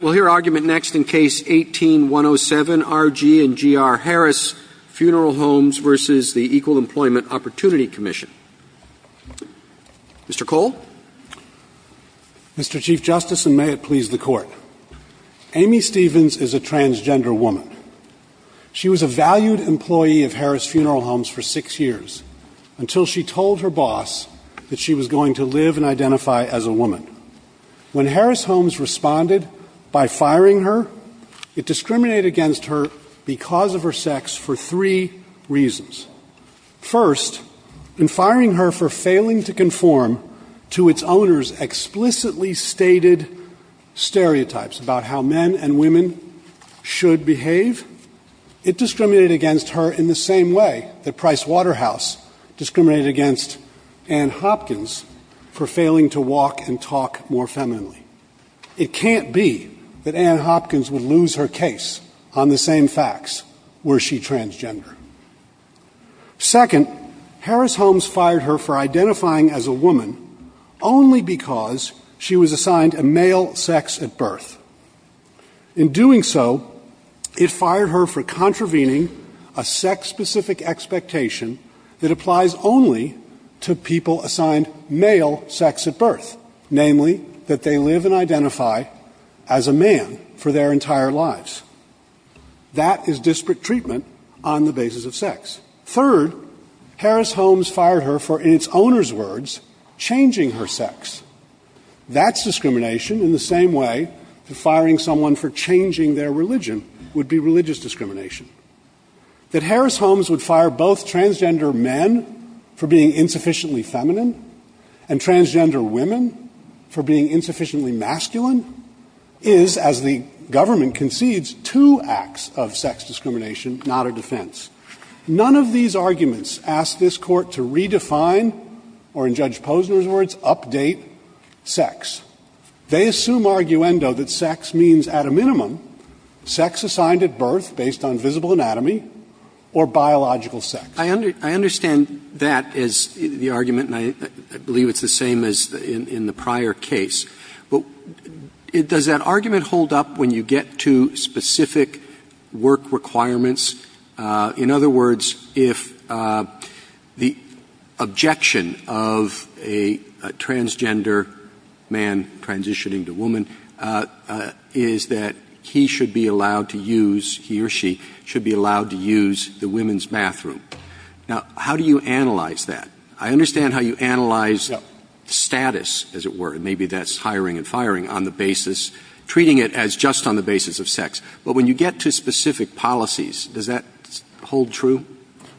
We'll hear argument next in Case 18-107, R.G. & G.R. Harris Funeral Homes v. EEOC. Mr. Cole? Mr. Chief Justice, and may it please the Court, Amy Stevens is a transgender woman. She was a valued employee of Harris Funeral Homes for six years, until she told her boss that she was going to live and identify as a woman. When Harris Homes responded by firing her, it discriminated against her because of her sex for three reasons. First, in firing her for failing to conform to its owner's explicitly stated stereotypes about how men and women should behave, it discriminated against her in the same way that Price Waterhouse discriminated against Anne Hopkins for failing to walk and talk more femininely. It can't be that Anne Hopkins would lose her case on the same facts were she transgender. Second, Harris Homes fired her for identifying as a woman only because she was assigned a male sex at birth. In doing so, it fired her for contravening a sex-specific expectation that applies only to people assigned male sex at birth, namely that they live and identify as a man for their entire lives. That is disparate treatment on the basis of sex. Third, Harris Homes fired her for, in its owner's words, changing her sex. That's discrimination in the same way that firing someone for changing their religion would be religious discrimination. That Harris Homes would fire both transgender men for being insufficiently feminine and transgender women for being insufficiently masculine is, as the government concedes, two acts of sex discrimination, not a defense. None of these arguments ask this Court to redefine or, in Judge Posner's words, update sex. They assume arguendo that sex means, at a minimum, sex assigned at birth based on visible anatomy or biological sex. Roberts. I understand that as the argument, and I believe it's the same as in the prior case. But does that argument hold up when you get to specific work requirements in other words, if the objection of a transgender man transitioning to woman is that he should be allowed to use, he or she should be allowed to use the women's bathroom? Now, how do you analyze that? I understand how you analyze status, as it were, and maybe that's hiring and firing on the basis, treating it as just on the basis of sex. But when you get to specific policies, does that hold true?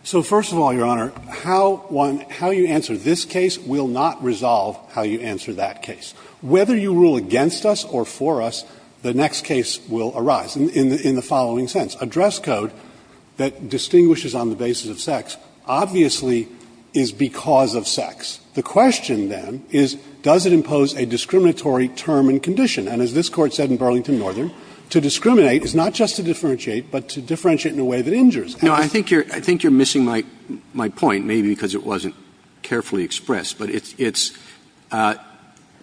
So, first of all, Your Honor, how you answer this case will not resolve how you answer that case. Whether you rule against us or for us, the next case will arise in the following sense. A dress code that distinguishes on the basis of sex obviously is because of sex. The question, then, is does it impose a discriminatory term and condition? And as this Court said in Burlington Northern, to discriminate is not just to differentiate, but to differentiate in a way that injures. Roberts. I think you're missing my point, maybe because it wasn't carefully expressed. But it's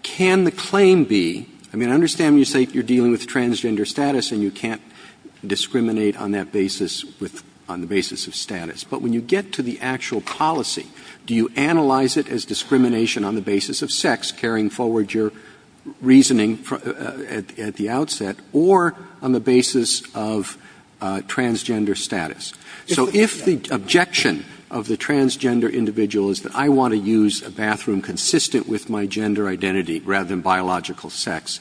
can the claim be, I mean, I understand when you say you're dealing with transgender status and you can't discriminate on that basis with the basis of status. But when you get to the actual policy, do you analyze it as discrimination on the basis of sex, carrying forward your reasoning at the outset, or on the basis of transgender status? So if the objection of the transgender individual is that I want to use a bathroom consistent with my gender identity rather than biological sex,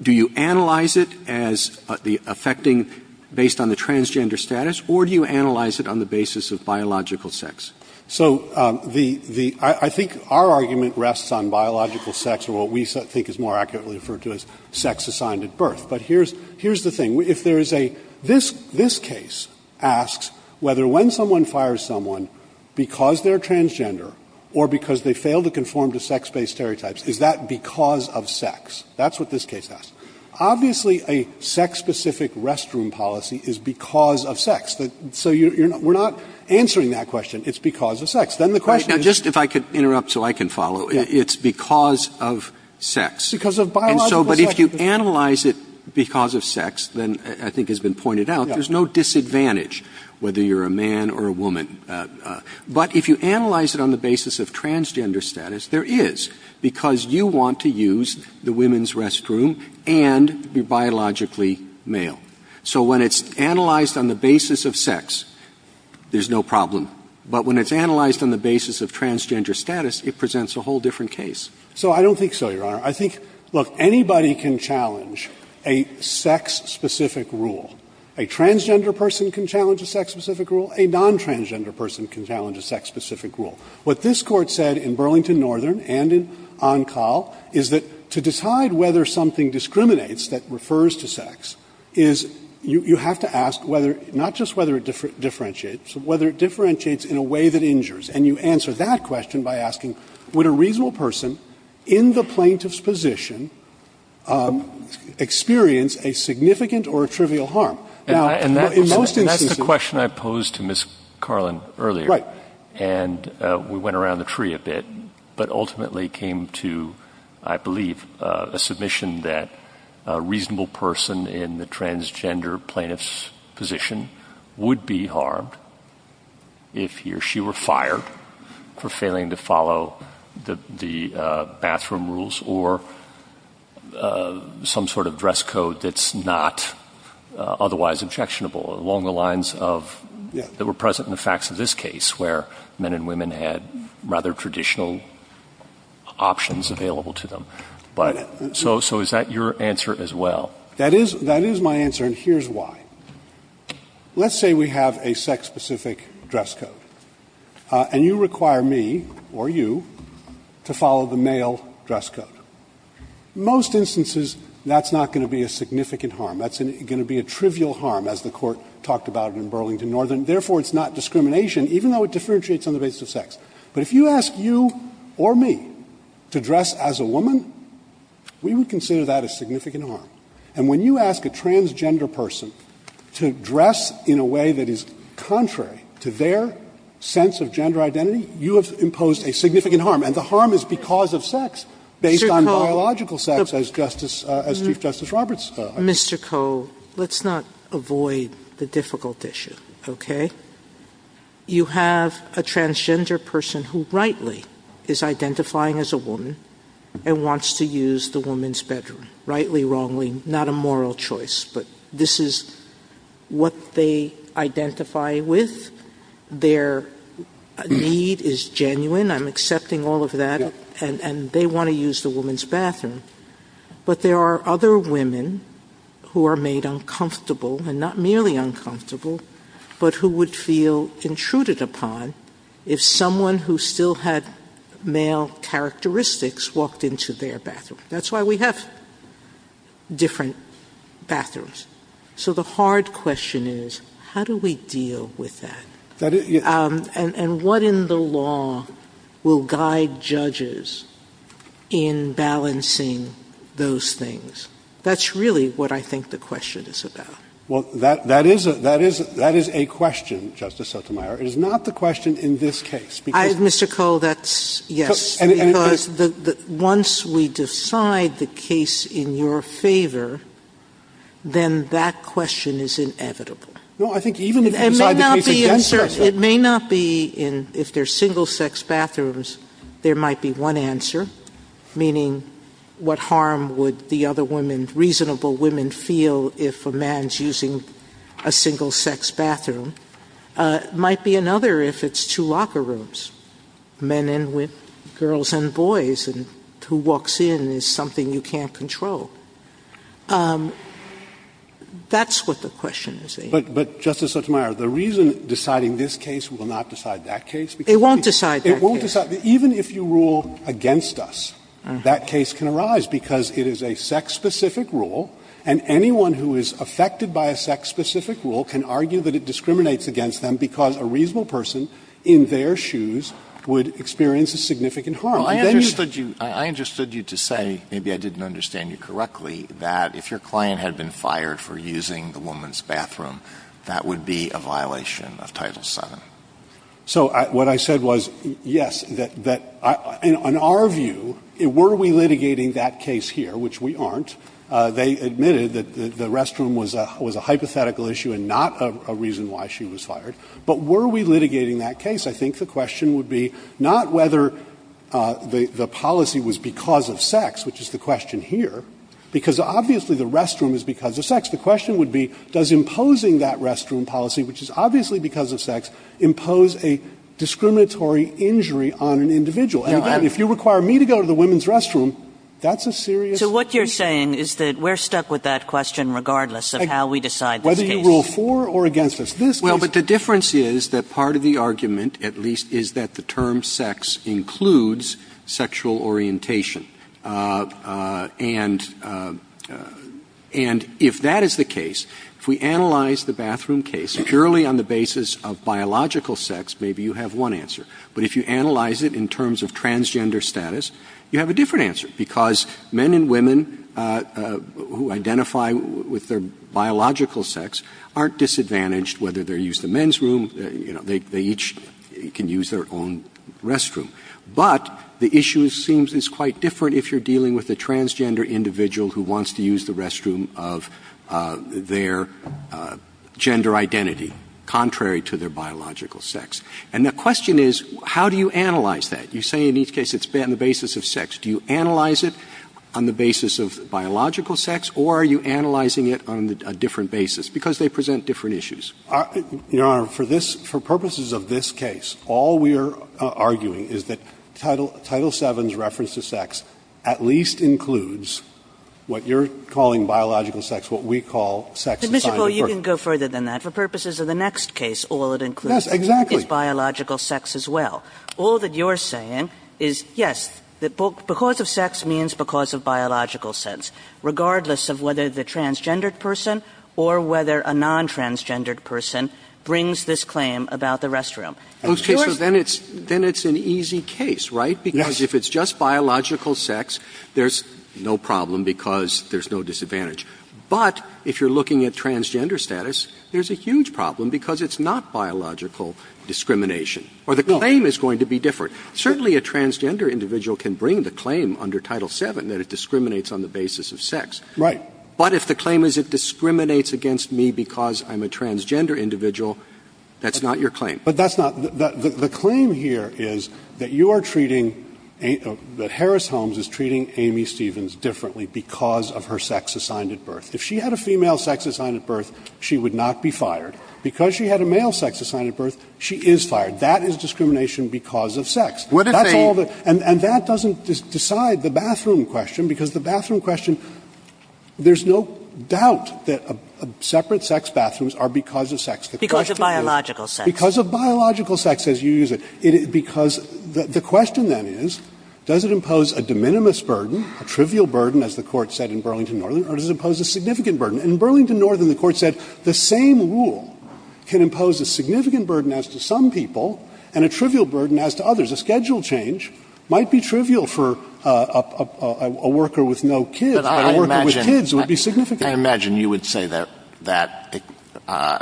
do you analyze it as the affecting based on the transgender status, or do you analyze it on the basis of biological sex? So the — I think our argument rests on biological sex or what we think is more accurately referred to as sex assigned at birth. But here's the thing. If there is a — this case asks whether when someone fires someone because they're transgender or because they fail to conform to sex-based stereotypes, is that because of sex? That's what this case asks. Obviously, a sex-specific restroom policy is because of sex. So you're not — we're not answering that question. It's because of sex. Then the question is — Roberts. Now, just if I could interrupt so I can follow. It's because of sex. Because of biological sex. And so — but if you analyze it because of sex, then I think has been pointed out, there's no disadvantage whether you're a man or a woman. But if you analyze it on the basis of transgender status, there is, because you want to use the women's restroom and be biologically male. So when it's analyzed on the basis of sex, there's no problem. But when it's analyzed on the basis of transgender status, it presents a whole different case. So I don't think so, Your Honor. I think — look, anybody can challenge a sex-specific rule. A transgender person can challenge a sex-specific rule. A non-transgender person can challenge a sex-specific rule. What this Court said in Burlington Northern and in Oncal is that to decide whether something discriminates that refers to sex is you have to ask whether — not just whether it differentiates, but whether it differentiates in a way that injures. And you answer that question by asking, would a reasonable person in the plaintiff's position experience a significant or a trivial harm? Now, in most instances — And that's the question I posed to Ms. Carlin earlier. Right. And we went around the tree a bit. But ultimately came to, I believe, a submission that a reasonable person in the transgender plaintiff's position would be harmed if he or she were fired for failing to follow the bathroom rules or some sort of dress code that's not otherwise objectionable, along the lines of — that were present in the facts of this case, where men and women had rather traditional options available to them. But — so is that your answer as well? That is my answer, and here's why. Let's say we have a sex-specific dress code, and you require me, or you, to follow the male dress code. Most instances, that's not going to be a significant harm. That's going to be a trivial harm, as the Court talked about in Burlington Northern. Therefore, it's not discrimination, even though it differentiates on the basis of sex. But if you ask you or me to dress as a woman, we would consider that a significant harm. And when you ask a transgender person to dress in a way that is contrary to their sense of gender identity, you have imposed a significant harm. And the harm is because of sex, based on biological sex, as Justice — as Chief Justice Roberts identified. Mr. Koh, let's not avoid the difficult issue, okay? You have a transgender person who, rightly, is identifying as a woman and wants to use the woman's bedroom. Rightly, wrongly, not a moral choice, but this is what they identify with. Their need is genuine. I'm accepting all of that, and they want to use the woman's bathroom. But there are other women who are made uncomfortable, and not merely uncomfortable, but who would feel intruded upon if someone who still had male characteristics walked into their bathroom. That's why we have different bathrooms. So the hard question is, how do we deal with that? And what in the law will guide judges in balancing those things? That's really what I think the question is about. Well, that is a question, Justice Sotomayor. It is not the question in this case, because — Mr. Koh, that's — yes. Because once we decide the case in your favor, then that question is inevitable. No, I think even if you decide the case against — Justice Sotomayor, it may not be in — if they're single-sex bathrooms, there might be one answer, meaning what harm would the other women, reasonable women, feel if a man's using a single-sex bathroom. It might be another if it's two locker rooms, men and women, girls and boys, and who walks in is something you can't control. That's what the question is, I think. But, Justice Sotomayor, the reason deciding this case will not decide that case because — It won't decide that case. It won't decide. Even if you rule against us, that case can arise because it is a sex-specific rule, and anyone who is affected by a sex-specific rule can argue that it discriminates against them because a reasonable person in their shoes would experience a significant harm. I understood you to say, maybe I didn't understand you correctly, that if your client had been fired for using the woman's bathroom, that would be a violation of Title VII. So what I said was, yes, that — in our view, were we litigating that case here, which we aren't. They admitted that the restroom was a hypothetical issue and not a reason why she was fired. But were we litigating that case? I think the question would be not whether the policy was because of sex, which is the question would be, does imposing that restroom policy, which is obviously because of sex, impose a discriminatory injury on an individual? And, again, if you require me to go to the women's restroom, that's a serious issue. So what you're saying is that we're stuck with that question regardless of how we decide this case. Whether you rule for or against us, this case — Well, but the difference is that part of the argument, at least, is that the term biological sex includes sexual orientation. And if that is the case, if we analyze the bathroom case purely on the basis of biological sex, maybe you have one answer. But if you analyze it in terms of transgender status, you have a different answer, because men and women who identify with their biological sex aren't disadvantaged, whether they use the men's room, you know, they each can use their own restroom. But the issue seems is quite different if you're dealing with a transgender individual who wants to use the restroom of their gender identity, contrary to their biological sex. And the question is, how do you analyze that? You say in each case it's on the basis of sex. Do you analyze it on the basis of biological sex, or are you analyzing it on a different basis, because they present different issues? Your Honor, for this — for purposes of this case, all we are arguing is that Title 7's reference to sex at least includes what you're calling biological sex, what we call sex assigned to a person. But, Mr. Poole, you can go further than that. For purposes of the next case, all it includes is biological sex as well. Yes, exactly. All that you're saying is, yes, that because of sex means because of biological sex, regardless of whether the transgendered person or whether a non-transgendered person brings this claim about the restroom. And in your case — Okay. So then it's — then it's an easy case, right? Yes. Because if it's just biological sex, there's no problem because there's no disadvantage. But if you're looking at transgender status, there's a huge problem because it's not biological discrimination, or the claim is going to be different. Certainly a transgender individual can bring the claim under Title 7 that it discriminates on the basis of sex. Right. But if the claim is it discriminates against me because I'm a transgender individual, that's not your claim. But that's not — the claim here is that you are treating — that Harris-Holmes is treating Amy Stevens differently because of her sex assigned at birth. If she had a female sex assigned at birth, she would not be fired. Because she had a male sex assigned at birth, she is fired. That is discrimination because of sex. That's all the — And that doesn't decide the bathroom question, because the bathroom question — there's no doubt that separate sex bathrooms are because of sex. The question is — Because of biological sex. Because of biological sex, as you use it. Because the question then is, does it impose a de minimis burden, a trivial burden, as the Court said in Burlington Northern, or does it impose a significant burden? In Burlington Northern, the Court said the same rule can impose a significant burden as to some people and a trivial burden as to others. A schedule change might be trivial for a worker with no kids, but a worker with kids, it would be significant. I imagine you would say that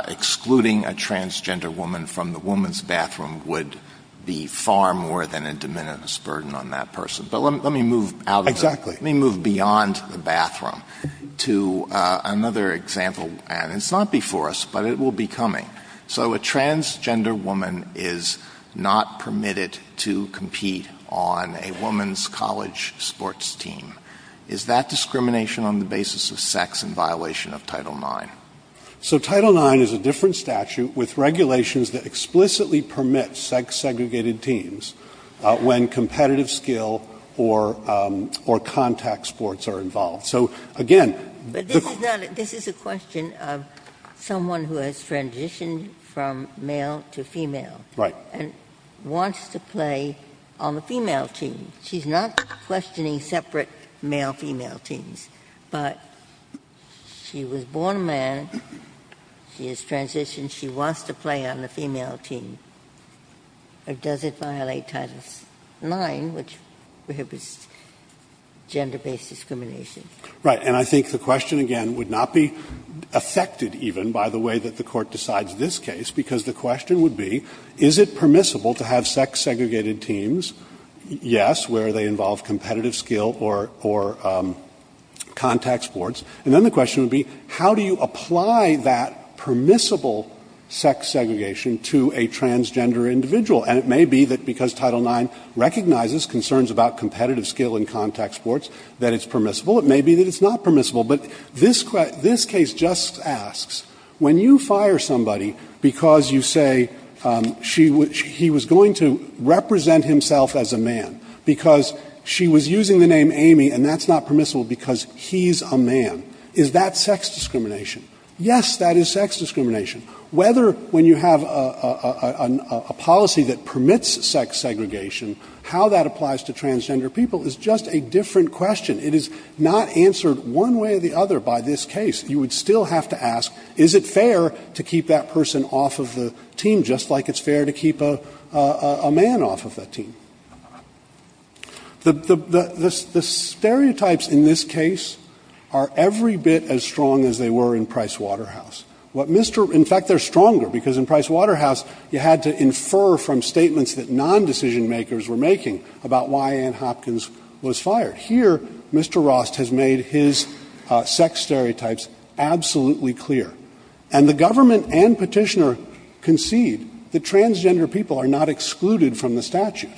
excluding a transgender woman from the woman's bathroom would be far more than a de minimis burden on that person. But let me move out of the — Exactly. Let me move beyond the bathroom to another example. And it's not before us, but it will be coming. So a transgender woman is not permitted to compete on a woman's college sports team. Is that discrimination on the basis of sex in violation of Title IX? So Title IX is a different statute with regulations that explicitly permit sex-segregated teams when competitive skill or contact sports are involved. So, again, the question of sex segregation is a different statute. Ginsburg's question is, if a woman is transitioned from male to female, and wants to play on the female team, she's not questioning separate male-female teams, but she was born a man, she has transitioned, she wants to play on the female team. Does it violate Title IX, which prohibits gender-based discrimination? Right. And I think the question, again, would not be affected, even, by the way that the Court decides this case, because the question would be, is it permissible to have sex-segregated teams? Yes, where they involve competitive skill or contact sports. And then the question would be, how do you apply that permissible sex segregation to a transgender individual? And it may be that because Title IX recognizes concerns about competitive skill in contact sports, that it's permissible. It may be that it's not permissible. But this case just asks, when you fire somebody because you say he was going to represent himself as a man, because she was using the name Amy and that's not permissible because he's a man, is that sex discrimination? Yes, that is sex discrimination. Whether when you have a policy that permits sex segregation, how that applies to transgender people is just a different question. It is not answered one way or the other by this case. You would still have to ask, is it fair to keep that person off of the team, just like it's fair to keep a man off of that team? The stereotypes in this case are every bit as strong as they were in Price Waterhouse. In fact, they're stronger, because in Price Waterhouse, you had to infer from statements that non-decision-makers were making about why Ann Hopkins was fired. Here, Mr. Rost has made his sex stereotypes absolutely clear. And the government and petitioner concede that transgender people are not excluded from the statute.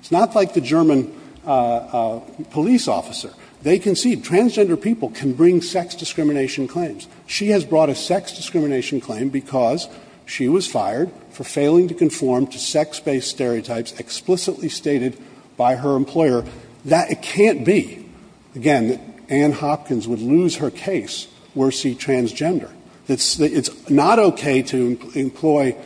It's not like the German police officer. They concede transgender people can bring sex discrimination claims. She has brought a sex discrimination claim because she was fired for failing to conform to sex-based stereotypes explicitly stated by her employer that it can't be, again, that Ann Hopkins would lose her case were she transgender. It's not okay to employ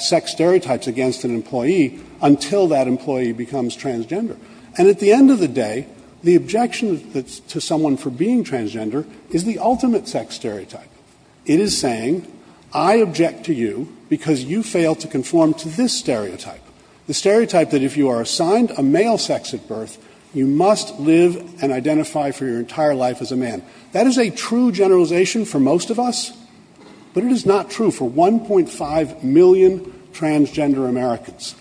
sex stereotypes against an employee until that employee becomes transgender. And at the end of the day, the objection to someone for being transgender is the ultimate sex stereotype. It is saying, I object to you because you fail to conform to this stereotype, the stereotype that if you are assigned a male sex at birth, you must live and identify for your entire life as a man. That is a true generalization for most of us, but it is not true for 1.5 million transgender Americans.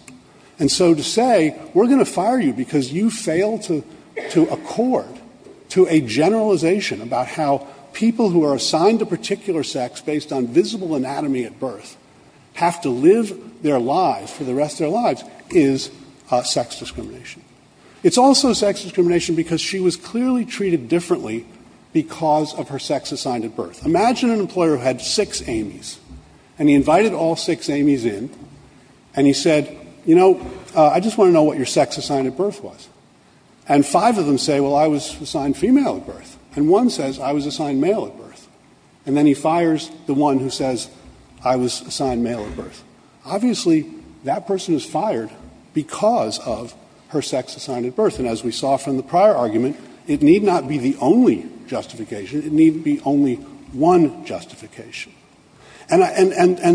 And so to say, we're going to fire you because you fail to accord to a generalization about how people who are assigned a particular sex based on visible anatomy at birth have to live their lives for the rest of their lives is sex discrimination. It's also sex discrimination because she was clearly treated differently because of her sex assigned at birth. Imagine an employer who had six Amy's, and he invited all six Amy's in, and he said, you know, I just want to know what your sex assigned at birth was. And five of them say, well, I was assigned female at birth. And one says, I was assigned male at birth. And then he fires the one who says, I was assigned male at birth. Obviously, that person is fired because of her sex assigned at birth. And as we saw from the prior argument, it need not be the only justification. It need be only one justification. And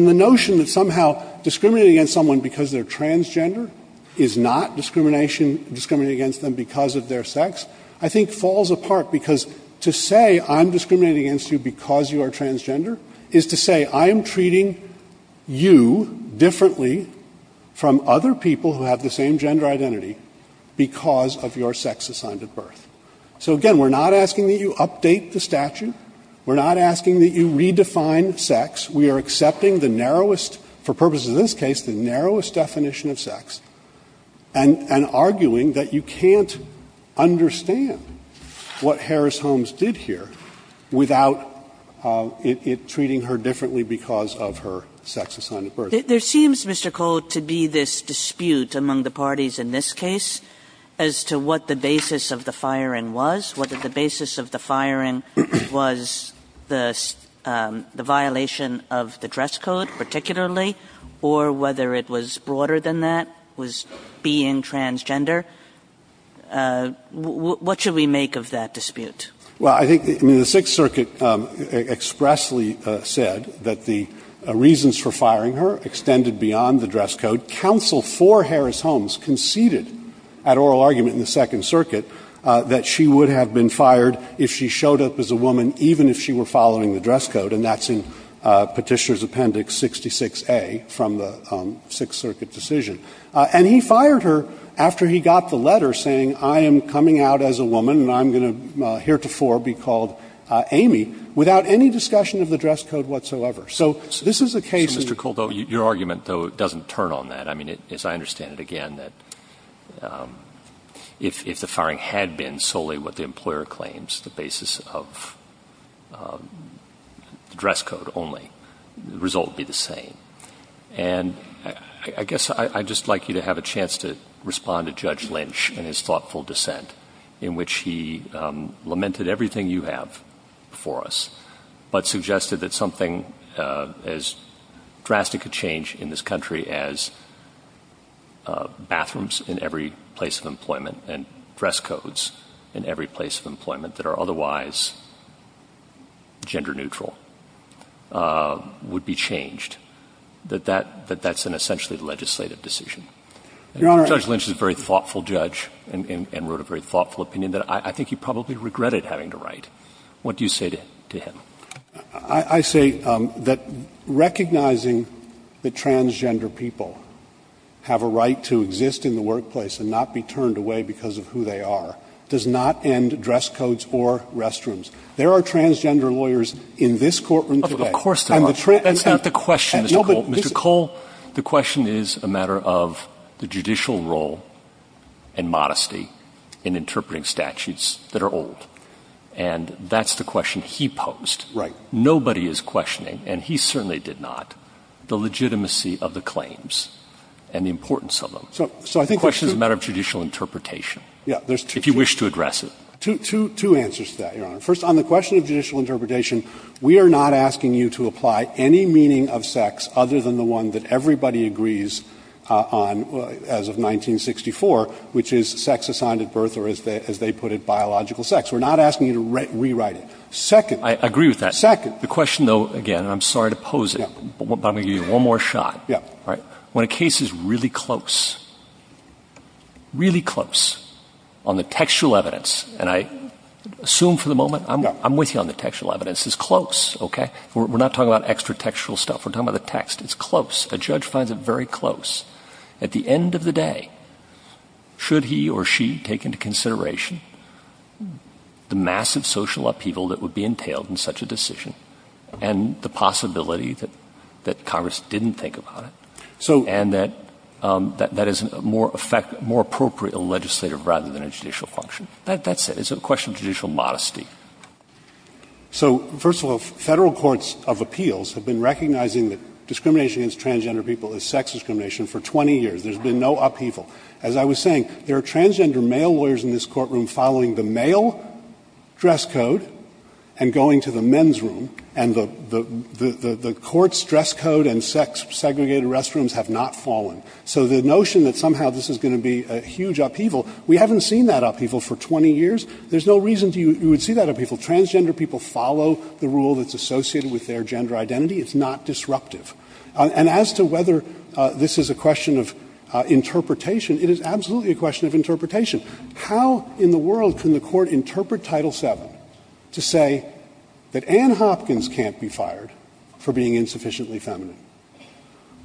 the notion that somehow discriminating against someone because they're transgender is not discrimination, discriminating against them because of their sex, I think falls apart. Because to say I'm discriminating against you because you are transgender is to say I am treating you differently from other people who have the same gender identity because of your sex assigned at birth. So again, we're not asking that you update the statute. We're not asking that you redefine sex. We are accepting the narrowest, for purposes of this case, the narrowest definition of what Harris-Holmes did here without it treating her differently because of her sex assigned at birth. Kagan. There seems, Mr. Cole, to be this dispute among the parties in this case as to what the basis of the firing was, whether the basis of the firing was the violation of the dress code, particularly, or whether it was broader than that, was being transgender. What should we make of that dispute? Well, I think the Sixth Circuit expressly said that the reasons for firing her extended beyond the dress code. Counsel for Harris-Holmes conceded at oral argument in the Second Circuit that she would have been fired if she showed up as a woman even if she were following the dress code. And that's in Petitioner's Appendix 66A from the Sixth Circuit decision. And he fired her after he got the letter saying, I am coming out as a woman and I'm going to heretofore be called Amy, without any discussion of the dress code whatsoever. So this is a case in the case. Mr. Cole, though, your argument, though, doesn't turn on that. I mean, as I understand it again, that if the firing had been solely what the employer claims, the basis of the dress code only, the result would be the same. And I guess I'd just like you to have a chance to respond to Judge Lynch and his thoughtful dissent in which he lamented everything you have for us, but suggested that something as drastic a change in this country as bathrooms in every place of employment and dress codes in every place of employment that are otherwise gender neutral would be changed, that that's an essentially legislative decision. Your Honor. Judge Lynch is a very thoughtful judge and wrote a very thoughtful opinion that I think he probably regretted having to write. What do you say to him? I say that recognizing that transgender people have a right to exist in the workplace and not be turned away because of who they are does not end dress codes or restrooms. There are transgender lawyers in this courtroom today. Of course there are. That's not the question, Mr. Cole. Mr. Cole, the question is a matter of the judicial role and modesty in interpreting statutes that are old. And that's the question he posed. Right. Nobody is questioning, and he certainly did not, the legitimacy of the claims and the importance of them. So I think the question is a matter of judicial interpretation. Yeah. If you wish to address it. Two answers to that, Your Honor. First, on the question of judicial interpretation, we are not asking you to apply any meaning of sex other than the one that everybody agrees on as of 1964, which is sex assigned at birth, or as they put it, biological sex. We're not asking you to rewrite it. Second. I agree with that. Second. The question, though, again, and I'm sorry to pose it, but I'm going to give you one more shot. Yeah. All right. When a case is really close, really close on the textual evidence, and I assume for the moment, I'm with you on the textual evidence, it's close, okay? We're not talking about extra-textual stuff. We're talking about the text. It's close. A judge finds it very close. At the end of the day, should he or she take into consideration the massive social upheaval that would be entailed in such a decision and the possibility that Congress didn't think about it, and that that is more appropriate in a legislative rather than a judicial function? That's it. It's a question of judicial modesty. So first of all, federal courts of appeals have been recognizing that discrimination against transgender people is sex discrimination for 20 years. There's been no upheaval. As I was saying, there are transgender male lawyers in this courtroom following the male dress code and going to the men's room, and the court's dress code and sex-segregated restrooms have not fallen. So the notion that somehow this is going to be a huge upheaval, we haven't seen that in 20 years, there's no reason you would see that in people. Transgender people follow the rule that's associated with their gender identity. It's not disruptive. And as to whether this is a question of interpretation, it is absolutely a question of interpretation. How in the world can the Court interpret Title VII to say that Ann Hopkins can't be fired for being insufficiently feminine,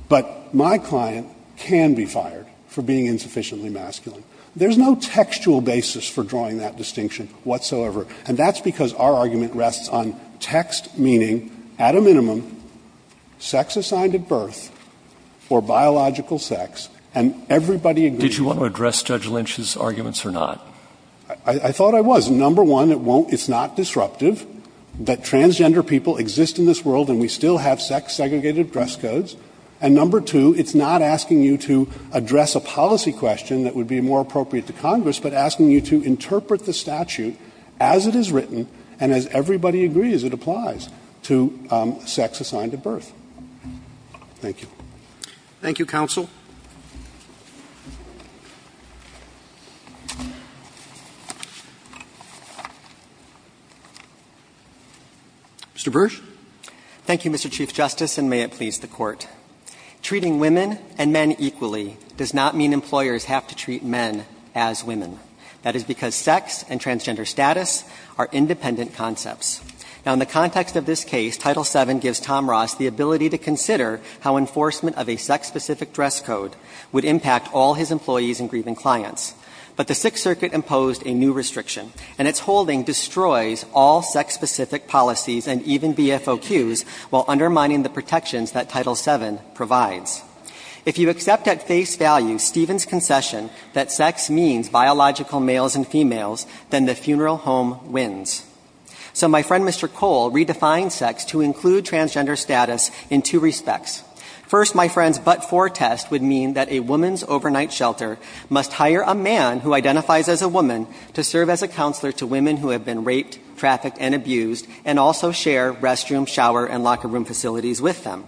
but my client can be fired for being insufficiently masculine? There's no textual basis for drawing that distinction whatsoever. And that's because our argument rests on text meaning, at a minimum, sex assigned at birth or biological sex, and everybody agrees. Did you want to address Judge Lynch's arguments or not? I thought I was. Number one, it won't – it's not disruptive that transgender people exist in this world and we still have sex-segregated dress codes. And number two, it's not asking you to address a policy question that would be more appropriate to Congress, but asking you to interpret the statute as it is written and as everybody agrees it applies to sex assigned at birth. Thank you. Roberts. Thank you, counsel. Mr. Bursch. Thank you, Mr. Chief Justice, and may it please the Court. Treating women and men equally does not mean employers have to treat men as women. That is because sex and transgender status are independent concepts. Now, in the context of this case, Title VII gives Tom Ross the ability to consider how enforcement of a sex-specific dress code would impact all his employees and grieving clients. But the Sixth Circuit imposed a new restriction, and its holding destroys all sex-specific policies and even BFOQs while undermining the protections that Title VII provides. If you accept at face value Stephen's concession that sex means biological males and females, then the funeral home wins. So my friend Mr. Cole redefined sex to include transgender status in two respects. First, my friend's but-for test would mean that a woman's overnight shelter must hire a man who identifies as a woman to serve as a counselor to women who have been raped, trafficked, and abused, and also share restroom, shower, and locker room facilities with them.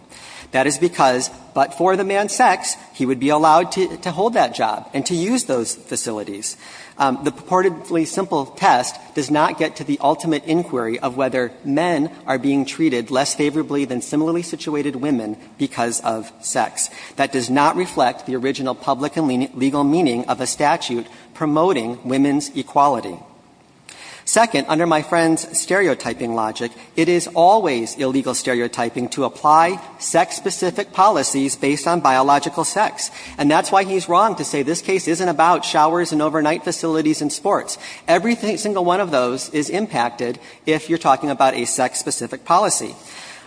That is because but-for the man's sex, he would be allowed to hold that job and to use those facilities. The purportedly simple test does not get to the ultimate inquiry of whether men are being treated less favorably than similarly situated women because of sex. That does not reflect the original public and legal meaning of a statute promoting women's equality. Second, under my friend's stereotyping logic, it is always illegal stereotyping to apply sex-specific policies based on biological sex. And that's why he's wrong to say this case isn't about showers and overnight facilities and sports. Every single one of those is impacted if you're talking about a sex-specific policy.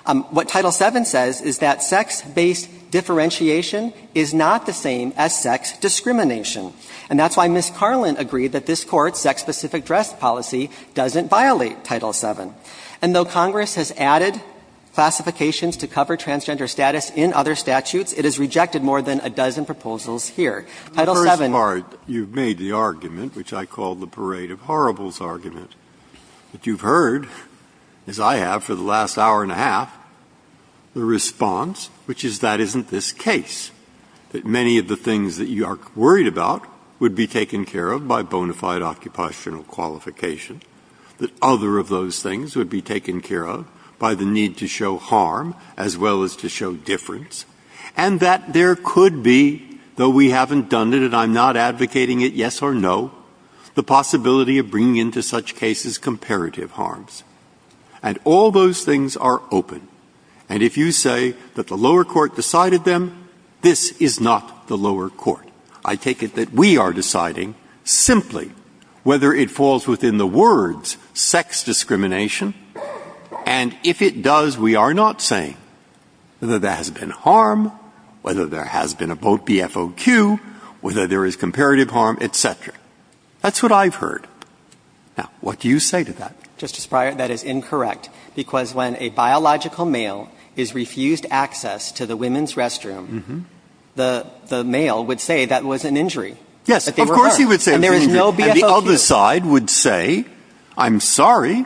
What Title VII says is that sex-based differentiation is not the same as sex discrimination. And that's why Ms. Carlin agreed that this Court's sex-specific dress policy doesn't violate Title VII. And though Congress has added classifications to cover transgender status in other statutes, it has rejected more than a dozen proposals here. Title VII --" Breyer, you've made the argument, which I call the Parade of Horribles argument. But you've heard, as I have for the last hour and a half, the response, which is that isn't this case, that many of the things that you are worried about would be taken care of by bona fide occupational qualification, that other of those things would be taken care of by the need to show harm as well as to show difference, and that there could be, though we haven't done it and I'm not advocating it, yes or no, the possibility of bringing into such cases comparative harms. And all those things are open. And if you say that the lower court decided them, this is not the lower court. I take it that we are deciding simply whether it falls within the words, sex discrimination. And if it does, we are not saying whether there has been harm, whether there has been a vote BFOQ, whether there is comparative harm, et cetera. That's what I've heard. Now, what do you say to that? Justice Breyer, that is incorrect, because when a biological male is refused access to the women's restroom, the male would say that was an injury. Yes. Of course he would say it was an injury. And there is no BFOQ. And the other side would say, I'm sorry,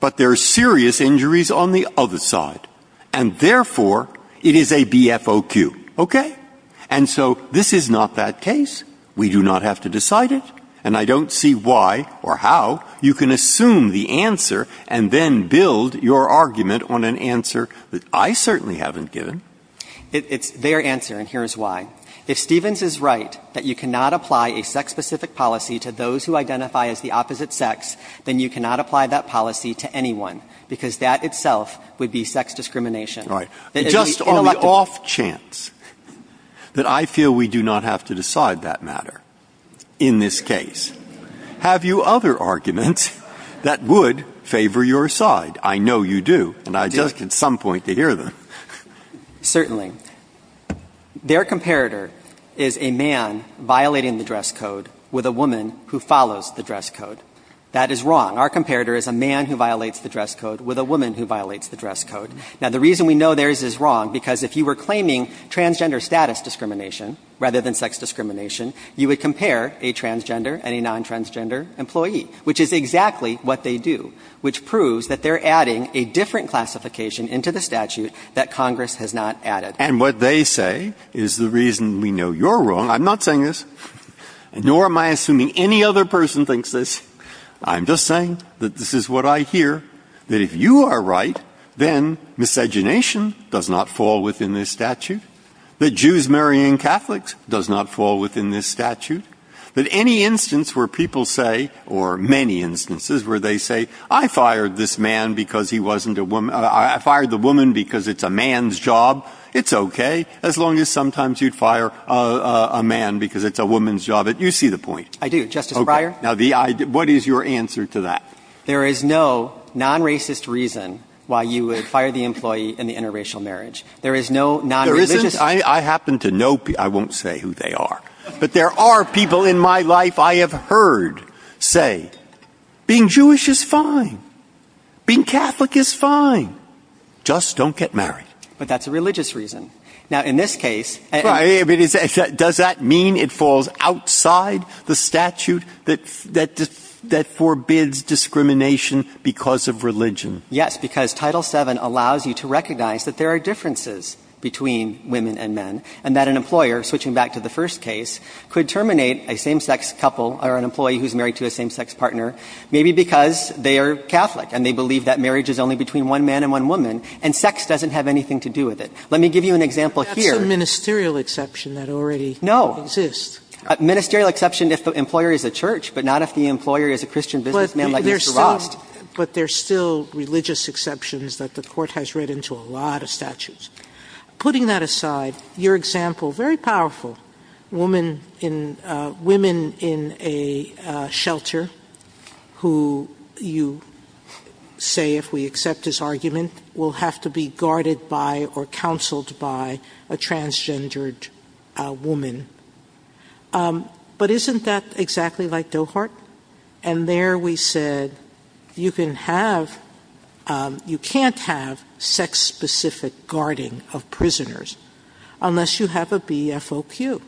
but there are serious injuries on the other side, and therefore it is a BFOQ, okay? And so this is not that case. We do not have to decide it. And I don't see why or how. You can assume the answer and then build your argument on an answer that I certainly haven't given. It's their answer, and here is why. If Stevens is right that you cannot apply a sex-specific policy to those who identify as the opposite sex, then you cannot apply that policy to anyone, because that itself would be sex discrimination. Right. Just on the off chance that I feel we do not have to decide that matter in this case, have you other arguments that would favor your side? I know you do. And I'd like at some point to hear them. Certainly. Their comparator is a man violating the dress code with a woman who follows the dress code. That is wrong. Our comparator is a man who violates the dress code with a woman who violates the dress code. Now, the reason we know theirs is wrong, because if you were claiming transgender status discrimination rather than sex discrimination, you would compare a transgender and a non-transgender employee, which is exactly what they do, which proves that they're adding a different classification into the statute that Congress has not added. And what they say is the reason we know you're wrong. I'm not saying this, nor am I assuming any other person thinks this. I'm just saying that this is what I hear, that if you are right, then miscegenation does not fall within this statute, that Jews marrying Catholics does not fall within this statute, that any instance where people say, or many instances where they say, I fired this man because he wasn't a woman, I fired the woman because it's a man's job, it's okay, as long as sometimes you'd fire a man because it's a woman's job. You see the point. I do. Justice Breyer? Now, what is your answer to that? There is no non-racist reason why you would fire the employee in the interracial marriage. There is no non-religious reason. I happen to know people. I won't say who they are. But there are people in my life I have heard say, being Jewish is fine, being Catholic is fine, just don't get married. But that's a religious reason. Now, in this case, does that mean it falls outside the statute that forbids discrimination because of religion? Yes, because Title VII allows you to recognize that there are differences between women and men, and that an employer, switching back to the first case, could terminate a same-sex couple or an employee who's married to a same-sex partner, maybe because they are Catholic and they believe that marriage is only between one man and one woman, and sex doesn't have anything to do with it. Let me give you an example here. That's a ministerial exception that already exists. Ministerial exception if the employer is a church, but not if the employer is a Christian businessman like Mr. Rost. But there's still religious exceptions that the court has read into a lot of statutes. Putting that aside, your example, very powerful, women in a shelter who you say, if we accept his argument, will have to be guarded by or counseled by a transgendered woman. But isn't that exactly like Dohart? And there we said, you can have, you can't have sex-specific guarding of prisoners unless you have a BFOQ.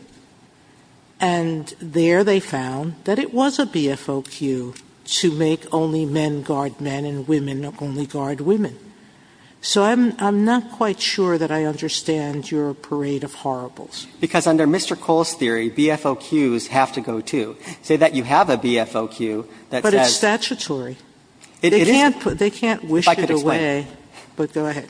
And there they found that it was a BFOQ to make only men guard men and women only guard women. So I'm not quite sure that I understand your parade of horribles. Because under Mr. Cole's theory, BFOQs have to go too. Say that you have a BFOQ. But it's statutory. They can't put, they can't wish it away, but go ahead.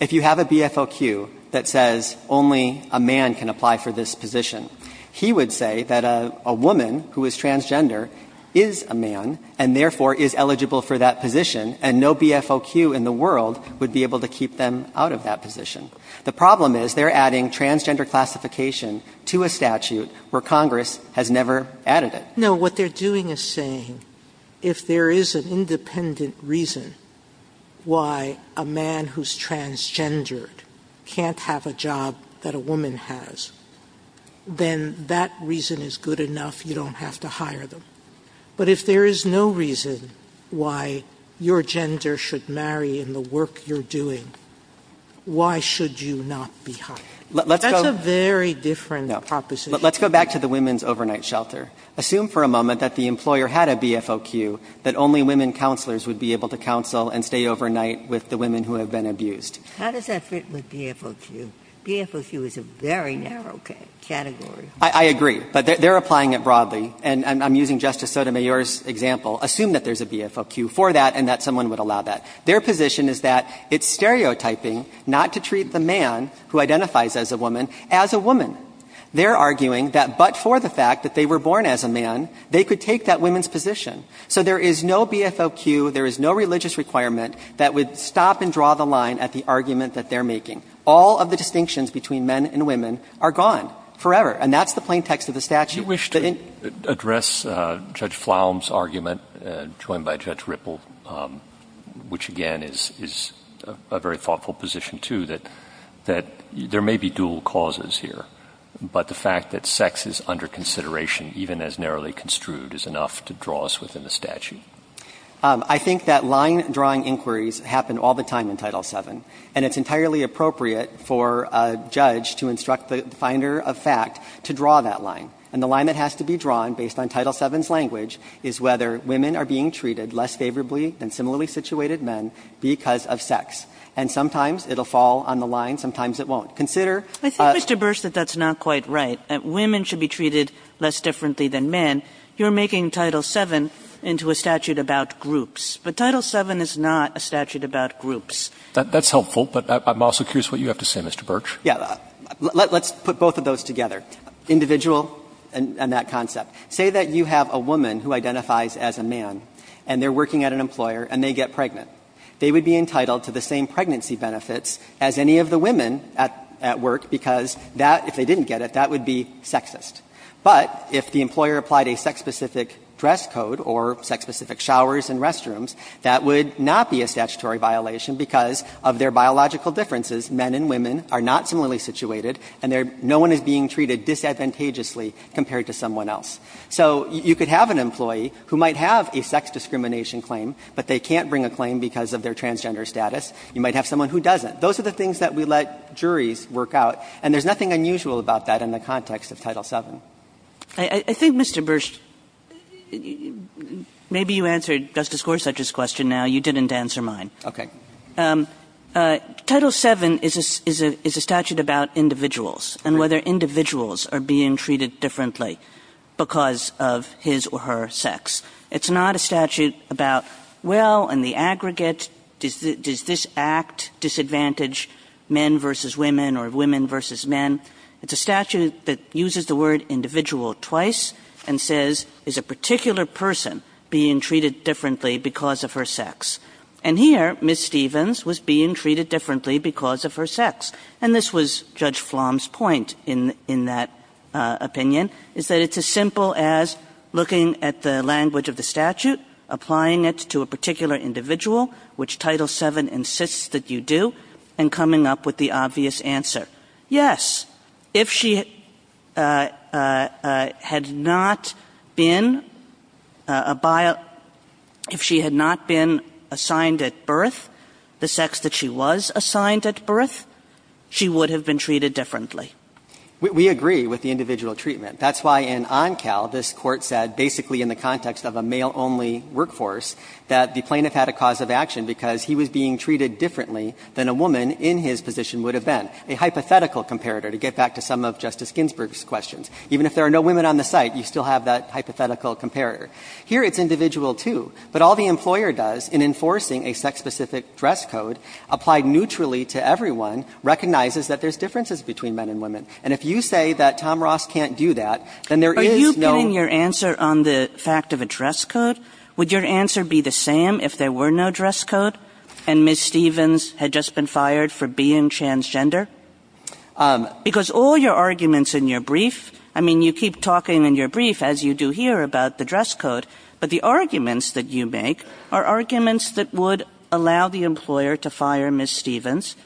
If you have a BFOQ that says only a man can apply for this position, he would say that a woman who is transgender is a man and therefore is eligible for that position and no BFOQ in the world would be able to keep them out of that position. The problem is they're adding transgender classification to a statute where Congress has never added it. No, what they're doing is saying, if there is an independent reason why a man who's transgendered can't have a job that a woman has, then that reason is good enough. You don't have to hire them. But if there is no reason why your gender should marry in the work you're doing, why should you not be hired? That's a very different proposition. Let's go back to the women's overnight shelter. Assume for a moment that the employer had a BFOQ that only women counselors would be able to counsel and stay overnight with the women who have been abused. How does that fit with BFOQ? BFOQ is a very narrow category. I agree, but they're applying it broadly. And I'm using Justice Sotomayor's example. Assume that there's a BFOQ for that and that someone would allow that. Their position is that it's stereotyping not to treat the man who identifies as a woman as a woman. They're arguing that but for the fact that they were born as a man, they could take that woman's position. So there is no BFOQ, there is no religious requirement that would stop and draw the line at the argument that they're making. All of the distinctions between men and women are gone forever. And that's the plain text of the statute. Would you wish to address Judge Flaum's argument, joined by Judge Ripple, which again is a very thoughtful position too, that there may be dual causes here, but the fact that sex is under consideration, even as narrowly construed, is enough to draw us within the statute. I think that line drawing inquiries happen all the time in Title VII. And it's entirely appropriate for a judge to instruct the finder of fact to draw that line, and the line that has to be drawn based on Title VII's language is whether women are being treated less favorably than similarly situated men because of sex. And sometimes it'll fall on the line, sometimes it won't. Consider Kagan I think, Mr. Birch, that that's not quite right. Women should be treated less differently than men. You're making Title VII into a statute about groups. But Title VII is not a statute about groups. Roberts That's helpful, but I'm also curious what you have to say, Mr. Birch. Birch Yeah, let's put both of those together, individual and that concept. Say that you have a woman who identifies as a man, and they're working at an employer and they get pregnant. They would be entitled to the same pregnancy benefits as any of the women at work because that, if they didn't get it, that would be sexist. But if the employer applied a sex-specific dress code or sex-specific showers and restrooms, that would not be a statutory violation because of their biological differences, men and women are not similarly situated and they're no one is being treated disadvantageously compared to someone else. So you could have an employee who might have a sex discrimination claim, but they can't bring a claim because of their transgender status. You might have someone who doesn't. Those are the things that we let juries work out, and there's nothing unusual about that in the context of Title VII. Kagan I think, Mr. Birch, maybe you answered Justice Gorsuch's question now. You didn't answer mine. Birch Okay. Title VII is a statute about individuals and whether individuals are being treated differently because of his or her sex. It's not a statute about, well, in the aggregate, does this act disadvantage men versus women or women versus men? It's a statute that uses the word individual twice and says, is a particular person being treated differently because of her sex? And here, Ms. Stevens was being treated differently because of her sex. And this was Judge Flom's point in that opinion, is that it's as simple as looking at the language of the statute, applying it to a particular individual, which Title VII insists that you do, and coming up with the obvious answer. Yes. If she had not been a bio – if she had not been assigned at birth the sex that she was assigned at birth, she would have been treated differently. Bursch We agree with the individual treatment. That's why in OnCal, this Court said, basically in the context of a male-only workforce, that the plaintiff had a cause of action because he was being treated differently than a woman in his position would have been, a hypothetical comparator, to get back to some of Justice Ginsburg's questions. Even if there are no women on the site, you still have that hypothetical comparator. Here, it's individual, too. But all the employer does in enforcing a sex-specific dress code applied neutrally to everyone recognizes that there's differences between men and women. And if you say that Tom Ross can't do that, then there is no – Kagan Are you pinning your answer on the fact of a dress code? Would your answer be the same if there were no dress code? And Ms. Stevens had just been fired for being transgender? Because all your arguments in your brief – I mean, you keep talking in your brief, as you do here, about the dress code, but the arguments that you make are arguments that would allow the employer to fire Ms. Stevens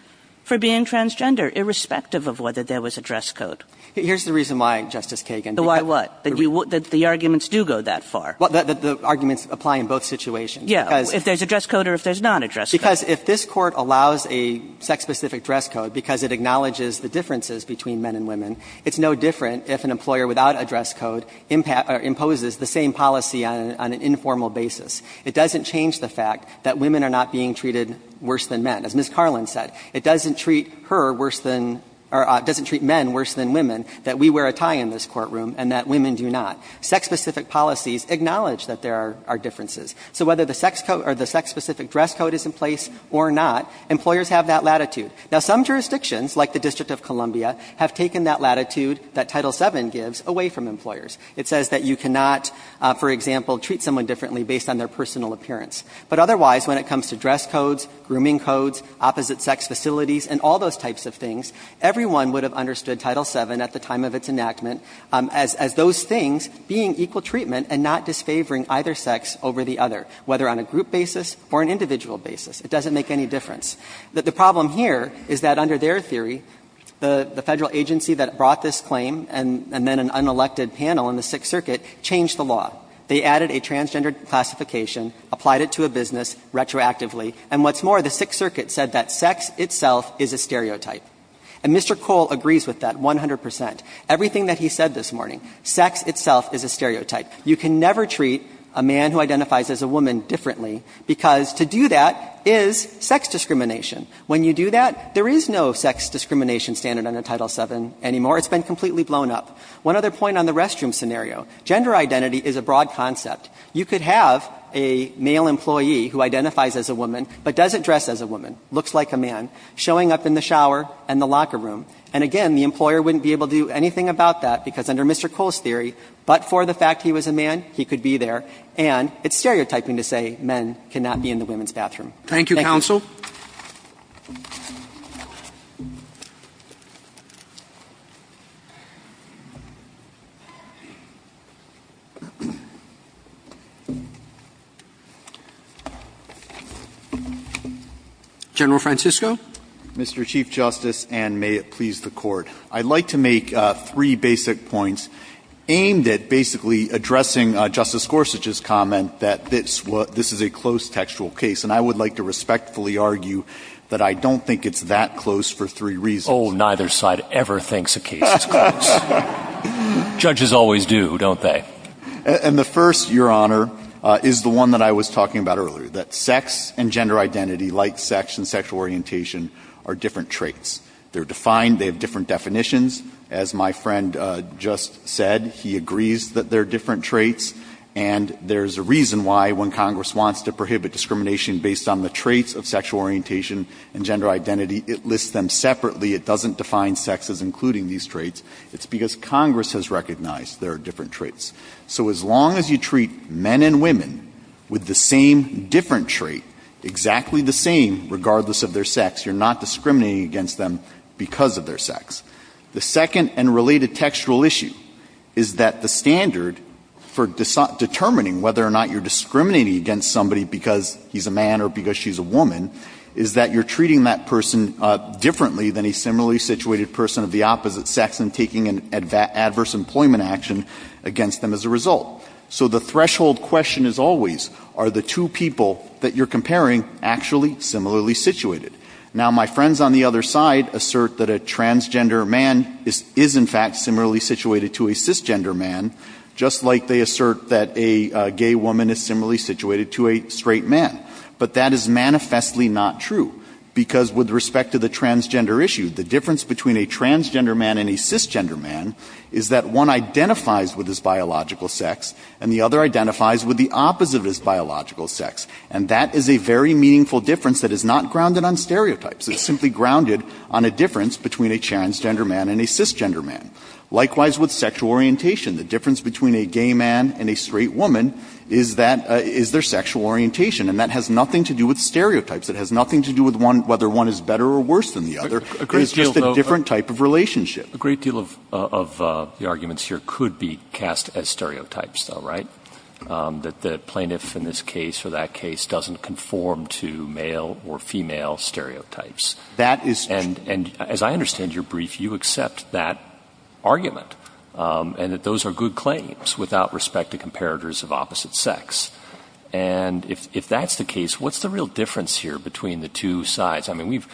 for being transgender, irrespective of whether there was a dress code. Bursch Here's the reason why, Justice Kagan. Kagan The why what? That the arguments do go that far. Bursch Well, that the arguments apply in both situations. Kagan If there's a dress code or if there's not a dress code. Bursch Because if this Court allows a sex-specific dress code because it acknowledges the differences between men and women, it's no different if an employer without a dress code imposes the same policy on an informal basis. It doesn't change the fact that women are not being treated worse than men. As Ms. Carlin said, it doesn't treat her worse than – or it doesn't treat men worse than women that we wear a tie in this courtroom and that women do not. Sex-specific policies acknowledge that there are differences. So whether the sex code – or the sex-specific dress code is in place or not, employers have that latitude. Now, some jurisdictions, like the District of Columbia, have taken that latitude that Title VII gives away from employers. It says that you cannot, for example, treat someone differently based on their personal appearance. But otherwise, when it comes to dress codes, grooming codes, opposite-sex facilities and all those types of things, everyone would have understood Title VII at the time of its enactment as those things being equal treatment and not disfavoring either sex over the other, whether on a group basis or an individual basis. It doesn't make any difference. The problem here is that under their theory, the Federal agency that brought this claim and then an unelected panel in the Sixth Circuit changed the law. They added a transgender classification, applied it to a business retroactively, and what's more, the Sixth Circuit said that sex itself is a stereotype. And Mr. Cole agrees with that 100 percent. Everything that he said this morning, sex itself is a stereotype. You can never treat a man who identifies as a woman differently, because to do that is sex discrimination. When you do that, there is no sex discrimination standard under Title VII anymore. It's been completely blown up. One other point on the restroom scenario, gender identity is a broad concept. You could have a male employee who identifies as a woman, but doesn't dress as a woman, looks like a man, showing up in the shower and the locker room. And again, the employer wouldn't be able to do anything about that, because under Mr. Cole's theory, but for the fact he was a man, he could be there. And it's stereotyping to say men cannot be in the women's bathroom. Thank you. Roberts. General Francisco. Francisco, Mr. Chief Justice, and may it please the Court. I'd like to make three basic points aimed at basically addressing Justice Gorsuch's comment that this is a close textual case, and I would like to respectfully argue that I don't think it's that close for three reasons. Oh, neither side ever thinks a case is close. Judges always do, don't they? And the first, Your Honor, is the one that I was talking about earlier, that sex and gender identity, like sex and sexual orientation, are different traits. They're defined. They have different definitions. As my friend just said, he agrees that they're different traits. And there's a reason why, when Congress wants to prohibit discrimination based on the traits of sexual orientation and gender identity, it lists them separately. It doesn't define sex as including these traits. It's because Congress has recognized there are different traits. So as long as you treat men and women with the same different trait, exactly the same, regardless of their sex, you're not discriminating against them because of their sex. The second and related textual issue is that the standard for determining whether or not you're discriminating against somebody because he's a man or because she's a woman, is that you're treating that person differently than a similarly situated person of the opposite sex and taking an adverse employment action against them as a result. So the threshold question is always, are the two people that you're comparing actually similarly situated? Now, my friends on the other side assert that a transgender man is in fact similarly situated to a cisgender man, just like they assert that a gay woman is similarly situated to a straight man, but that is manifestly not true. Because with respect to the transgender issue, the difference between a transgender man and a cisgender man is that one identifies with his biological sex and the other identifies with the opposite of his biological sex. And that is a very meaningful difference that is not grounded on stereotypes. It's simply grounded on a difference between a transgender man and a cisgender man. Likewise with sexual orientation, the difference between a gay man and a straight woman is their sexual orientation. And that has nothing to do with stereotypes. It has nothing to do with whether one is better or worse than the other. It's just a different type of relationship. A great deal of the arguments here could be cast as stereotypes though, right? That the plaintiff in this case or that case doesn't conform to male or female stereotypes. And as I understand your brief, you accept that argument. And that those are good claims without respect to comparators of opposite sex. And if that's the case, what's the real difference here between the two sides? I mean, we've-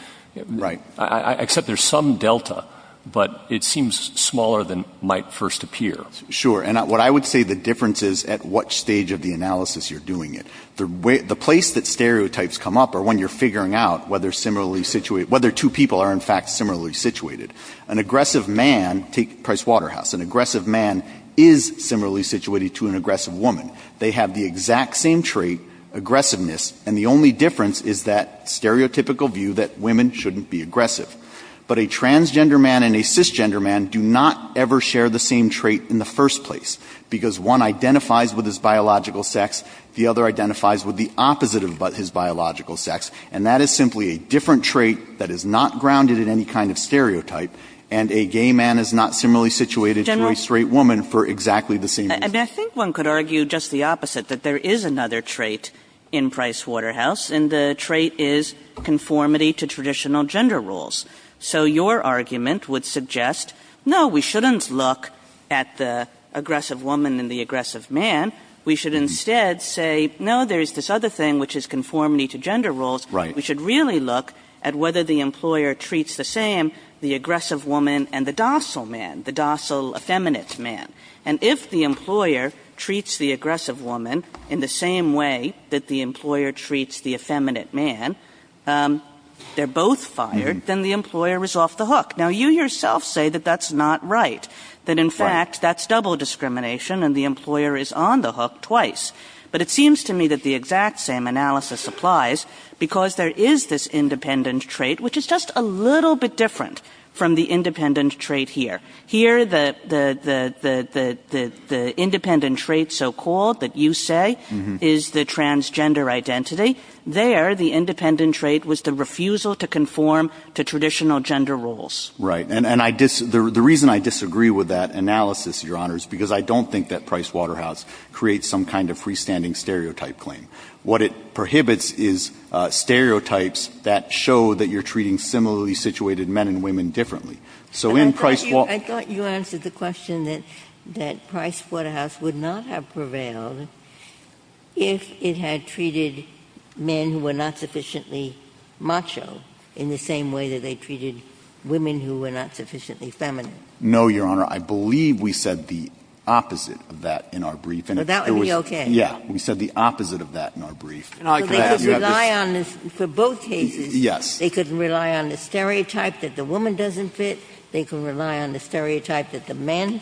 Right. Except there's some delta, but it seems smaller than might first appear. Sure. And what I would say the difference is at what stage of the analysis you're doing it. The place that stereotypes come up are when you're figuring out whether two people are in fact similarly situated. An aggressive man, take Price Waterhouse, an aggressive man is similarly situated to an aggressive woman. They have the exact same trait, aggressiveness, and the only difference is that stereotypical view that women shouldn't be aggressive. But a transgender man and a cisgender man do not ever share the same trait in the first place, because one identifies with his biological sex, the other identifies with the opposite of his biological sex. And that is simply a different trait that is not grounded in any kind of stereotype. And a gay man is not similarly situated to a straight woman for exactly the same reason. And I think one could argue just the opposite, that there is another trait in Price Waterhouse, and the trait is conformity to traditional gender roles. So your argument would suggest, no, we shouldn't look at the aggressive woman and the aggressive man. We should instead say, no, there is this other thing which is conformity to gender roles. Right. We should really look at whether the employer treats the same, the aggressive woman and the docile man, the docile effeminate man. And if the employer treats the aggressive woman in the same way that the employer treats the effeminate man, they're both fired, then the employer is off the hook. Now, you yourself say that that's not right, that in fact, that's double discrimination and the employer is on the hook twice. But it seems to me that the exact same analysis applies, because there is this independent trait, which is just a little bit different from the independent trait here. Here, the independent trait, so-called, that you say, is the transgender identity. There, the independent trait was the refusal to conform to traditional gender roles. Right. And I dis — the reason I disagree with that analysis, Your Honors, because I don't think that Price Waterhouse creates some kind of freestanding stereotype claim. What it prohibits is stereotypes that show that you're treating similarly situated men and women differently. So in Price Waterhouse — I thought you answered the question that — that Price Waterhouse would not have treated men who were not sufficiently macho in the same way that they treated women who were not sufficiently feminine. No, Your Honor. I believe we said the opposite of that in our brief. And if there was — Well, that would be okay. Yeah. We said the opposite of that in our brief. And I could have — you have this — But they couldn't rely on this for both cases. Yes. They couldn't rely on the stereotype that the woman doesn't fit. They couldn't rely on the stereotype that the men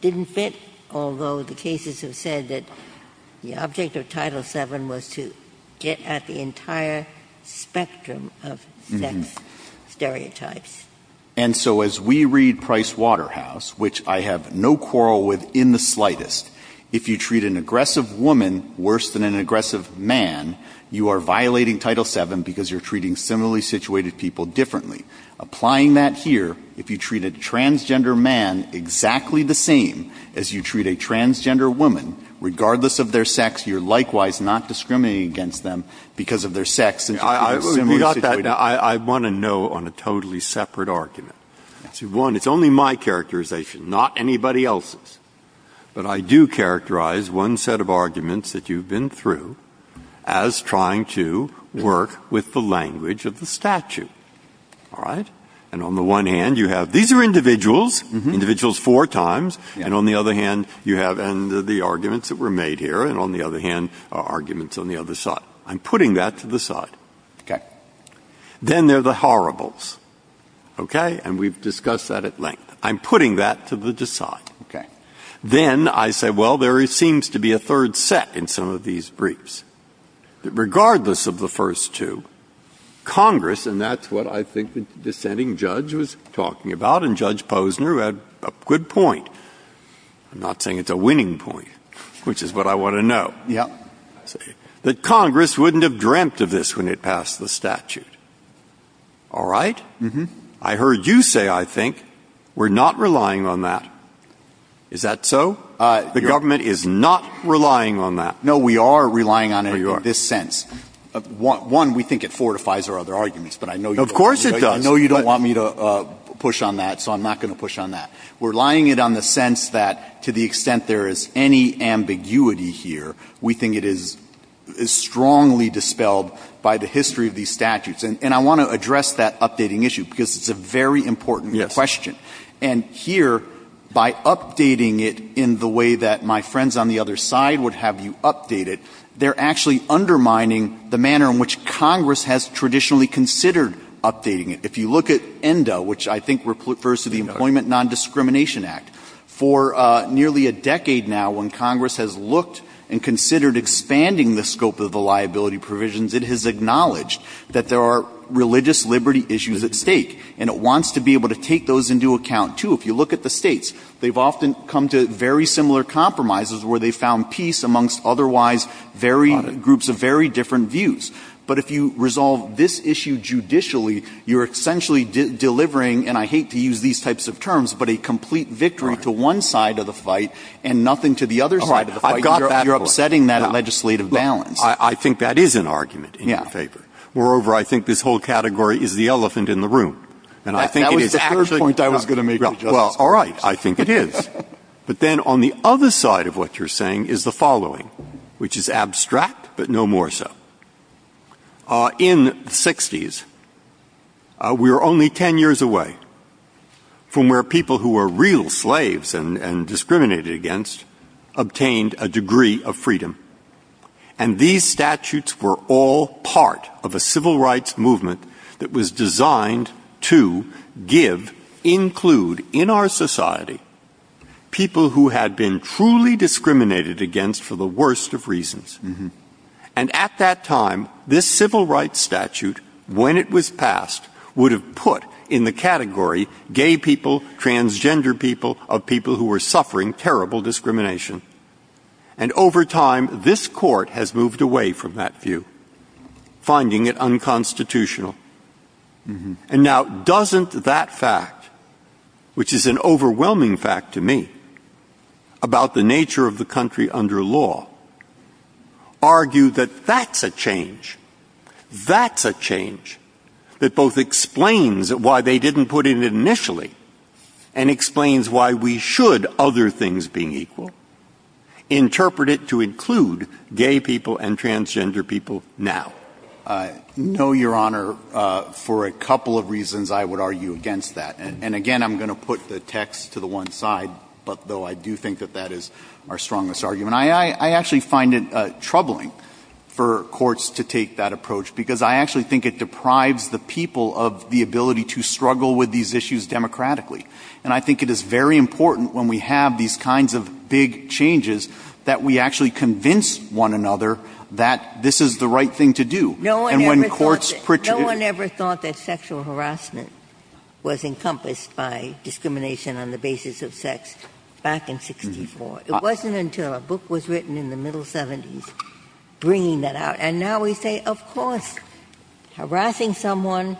didn't fit, although the cases have said that the object of Title VII was to get at the entire spectrum of sex stereotypes. And so as we read Price Waterhouse, which I have no quarrel with in the slightest, if you treat an aggressive woman worse than an aggressive man, you are violating Title VII because you're treating similarly situated people differently. Applying that here, if you treat a transgender man exactly the same as you treat a transgender woman, regardless of their sex, you're likewise not discriminating against them because of their sex. I want to know on a totally separate argument. One, it's only my characterization, not anybody else's. But I do characterize one set of arguments that you've been through as trying to work with the language of the statute. All right? And on the one hand, you have — these are individuals, individuals four times. And on the other hand, you have — and the arguments that were made here, and on the other hand, arguments on the other side. I'm putting that to the side. Then there are the horribles, okay? And we've discussed that at length. I'm putting that to the side. Then I say, well, there seems to be a third set in some of these briefs. Regardless of the first two, Congress — and that's what I think the dissenting judge was saying, it's a good point. I'm not saying it's a winning point, which is what I want to know. That Congress wouldn't have dreamt of this when it passed the statute. All right? I heard you say, I think, we're not relying on that. Is that so? The government is not relying on that. No, we are relying on it in this sense. One, we think it fortifies our other arguments, but I know you don't — Of course it does. I know you don't want me to push on that, so I'm not going to push on that. We're relying it on the sense that to the extent there is any ambiguity here, we think it is strongly dispelled by the history of these statutes. And I want to address that updating issue, because it's a very important question. And here, by updating it in the way that my friends on the other side would have you update it, they're actually undermining the manner in which Congress has traditionally considered updating it. If you look at ENDA, which I think refers to the Employment Non-Discrimination Act, for nearly a decade now, when Congress has looked and considered expanding the scope of the liability provisions, it has acknowledged that there are religious liberty issues at stake. And it wants to be able to take those into account, too. If you look at the states, they've often come to very similar compromises where they've found peace amongst otherwise very — On it. — groups of very different views. But if you resolve this issue judicially, you're essentially delivering, and I hate to use these types of terms, but a complete victory to one side of the fight and nothing to the other side of the fight. You're upsetting that legislative balance. I think that is an argument in your favor. Moreover, I think this whole category is the elephant in the room. And I think it is actually — That was the third point I was going to make to Justice Breyer. Well, all right. I think it is. But then on the other side of what you're saying is the following, which is abstract but no more so. In the 60s, we were only 10 years away from where people who were real slaves and discriminated against obtained a degree of freedom. And these statutes were all part of a civil rights movement that was designed to give, include, in our society, people who had been truly discriminated against for the worst of reasons. And at that time, this civil rights statute, when it was passed, would have put in the category gay people, transgender people, of people who were suffering terrible discrimination. And over time, this Court has moved away from that view, finding it unconstitutional. And now, doesn't that fact, which is an overwhelming fact to me, about the nature of the country under law, argue that that's a change? That's a change that both explains why they didn't put it in initially and explains why we should, other things being equal, interpret it to include gay people and transgender people now? No, Your Honor. For a couple of reasons, I would argue against that. And again, I'm going to put the text to the one side, but though I do think that that is our strongest argument, I actually find it troubling for courts to take that approach, because I actually think it deprives the people of the ability to struggle with these issues democratically. And I think it is very important, when we have these kinds of big changes, that we actually convince one another that this is the right thing to do. And when courts pretend to do that, it's not the right thing to do. No one ever thought that sexual harassment was encompassed by discrimination on the basis of sex back in 1964. It wasn't until a book was written in the middle 70s bringing that out. And now we say, of course, harassing someone,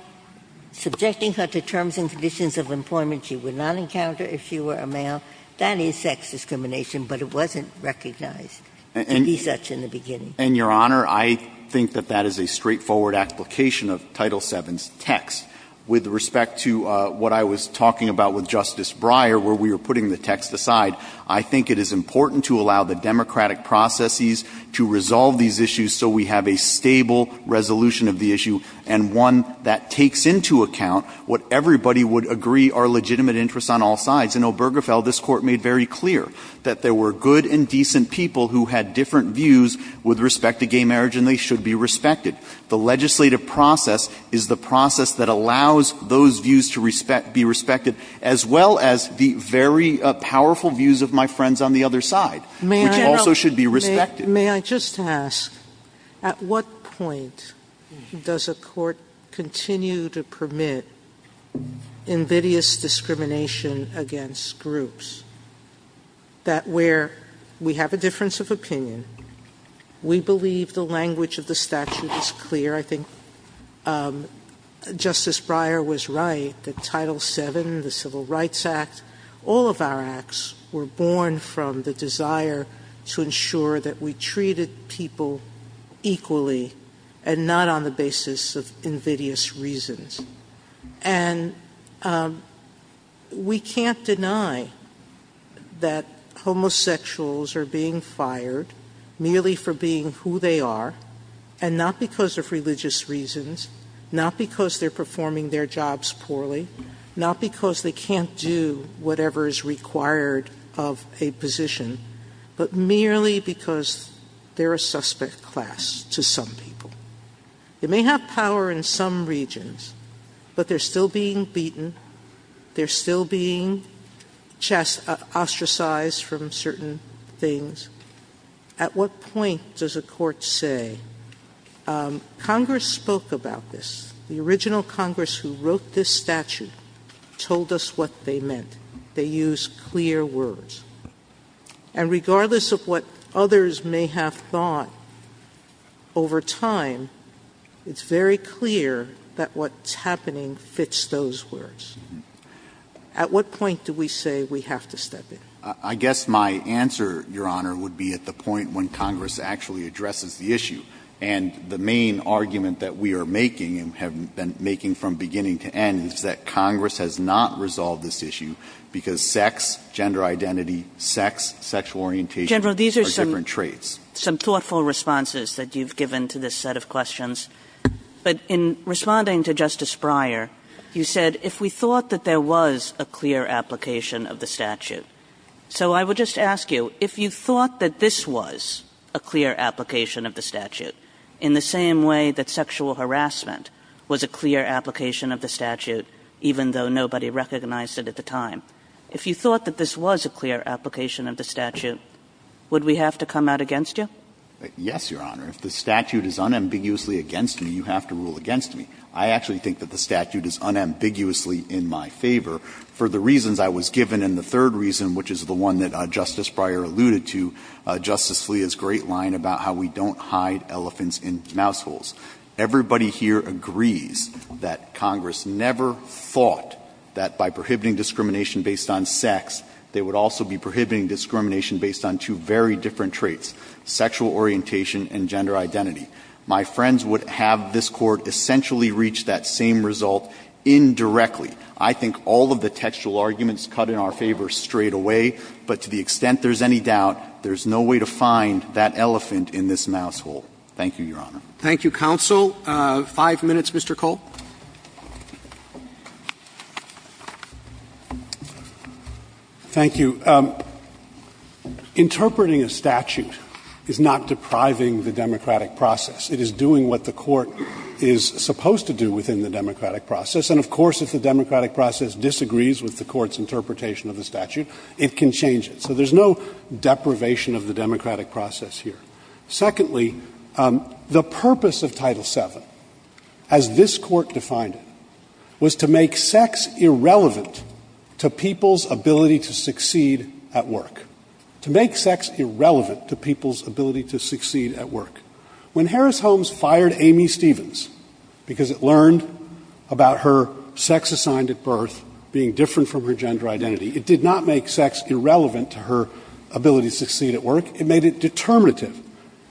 subjecting her to terms and conditions of employment she would not encounter if she were a male, that is sex discrimination, but it wasn't recognized to be such in the beginning. And, Your Honor, I think that that is a straightforward application of Title VII's text with respect to what I was talking about with Justice Breyer, where we were putting the text aside. I think it is important to allow the democratic processes to resolve these issues so we have a stable resolution of the issue and one that takes into account what everybody would agree are legitimate interests on all sides. In Obergefell, this Court made very clear that there were good and decent people who had different views with respect to gay marriage, and they should be respected. The legislative process is the process that allows those views to be respected, as well as the very powerful views of my friends on the other side, which also should be respected. Sotomayor, may I just ask, at what point does a court continue to permit invidious discrimination against groups that where we have a difference of opinion, we believe the language of the statute is clear? I think Justice Breyer was right that Title VII, the Civil Rights Act, all of our acts were born from the desire to ensure that we treated people equally and not on the basis of invidious reasons. And we can't deny that homosexuals are being fired merely for being who they are, and not because of religious reasons, not because they're performing their jobs poorly, not because they can't do whatever is required of a position, but merely because they're a suspect class to some people. They may have power in some regions, but they're still being beaten, they're still being ostracized from certain things. At what point does a court say, Congress spoke about this, the original Congress who wrote this statute told us what they meant, they used clear words, and regardless of what others may have thought over time, it's very clear that what's happening fits those words. At what point do we say we have to step in? I guess my answer, Your Honor, would be at the point when Congress actually addresses the issue. And the main argument that we are making, and have been making from beginning to end, is that Congress has not resolved this issue because sex, gender identity, sex, sexual orientation are different traits. General, these are some thoughtful responses that you've given to this set of questions. But in responding to Justice Breyer, you said, if we thought that there was a clear application of the statute, so I would just ask you, if you thought that this was a clear application of the statute, in the same way that sexual harassment was a clear application of the statute, even though nobody recognized it at the time, if you thought that this was a clear application of the statute, would we have to come out against you? Yes, Your Honor. If the statute is unambiguously against me, you have to rule against me. I actually think that the statute is unambiguously in my favor for the reasons I was given, and the third reason, which is the one that Justice Breyer alluded to, Justice Scalia's great line about how we don't hide elephants in mouse holes. Everybody here agrees that Congress never thought that by prohibiting discrimination based on sex, they would also be prohibiting discrimination based on two very different traits, sexual orientation and gender identity. My friends would have this Court essentially reach that same result indirectly. I think all of the textual arguments cut in our favor straightaway, but to the extent there's any doubt, there's no way to find that elephant in this mouse hole. Thank you, Your Honor. Roberts. Thank you, counsel. Five minutes, Mr. Cole. Thank you. Interpreting a statute is not depriving the democratic process. It is doing what the Court is supposed to do within the democratic process. And, of course, if the democratic process disagrees with the Court's interpretation of the statute, it can change it. So there's no deprivation of the democratic process here. Secondly, the purpose of Title VII, as this Court defined it, was to make sex irrelevant to people's ability to succeed at work. To make sex irrelevant to people's ability to succeed at work. When Harris Holmes fired Amy Stevens because it learned about her sex assigned at birth being different from her gender identity, it did not make sex irrelevant to her ability to succeed at work. It made it determinative.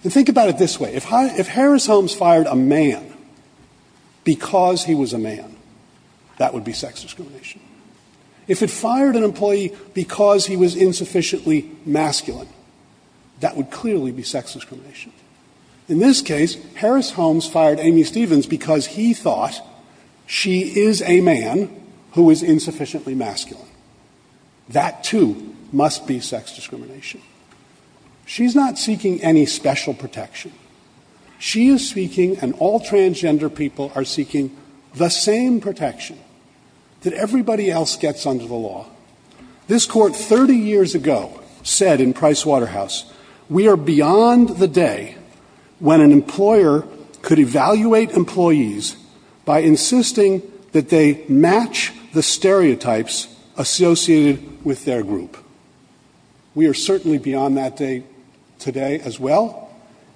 And think about it this way. If Harris Holmes fired a man because he was a man, that would be sex discrimination. If it fired an employee because he was insufficiently masculine, that would clearly be sex discrimination. In this case, Harris Holmes fired Amy Stevens because he thought she is a man who is insufficiently masculine. That too must be sex discrimination. She's not seeking any special protection. She is seeking, and all transgender people are seeking, the same protection that everybody else gets under the law. This Court 30 years ago said in Pricewaterhouse, we are beyond the day when an employer could evaluate employees by insisting that they match the stereotypes associated with their group. We are certainly beyond that day today as well.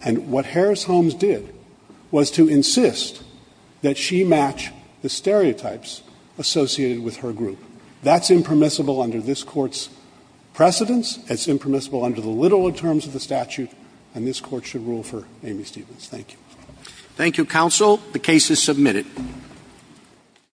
And what Harris Holmes did was to insist that she match the stereotypes associated with her group. That's impermissible under this Court's precedence. It's impermissible under the littler terms of the statute. And this Court should rule for Amy Stevens. Thank you. Roberts. Thank you, counsel. The case is submitted.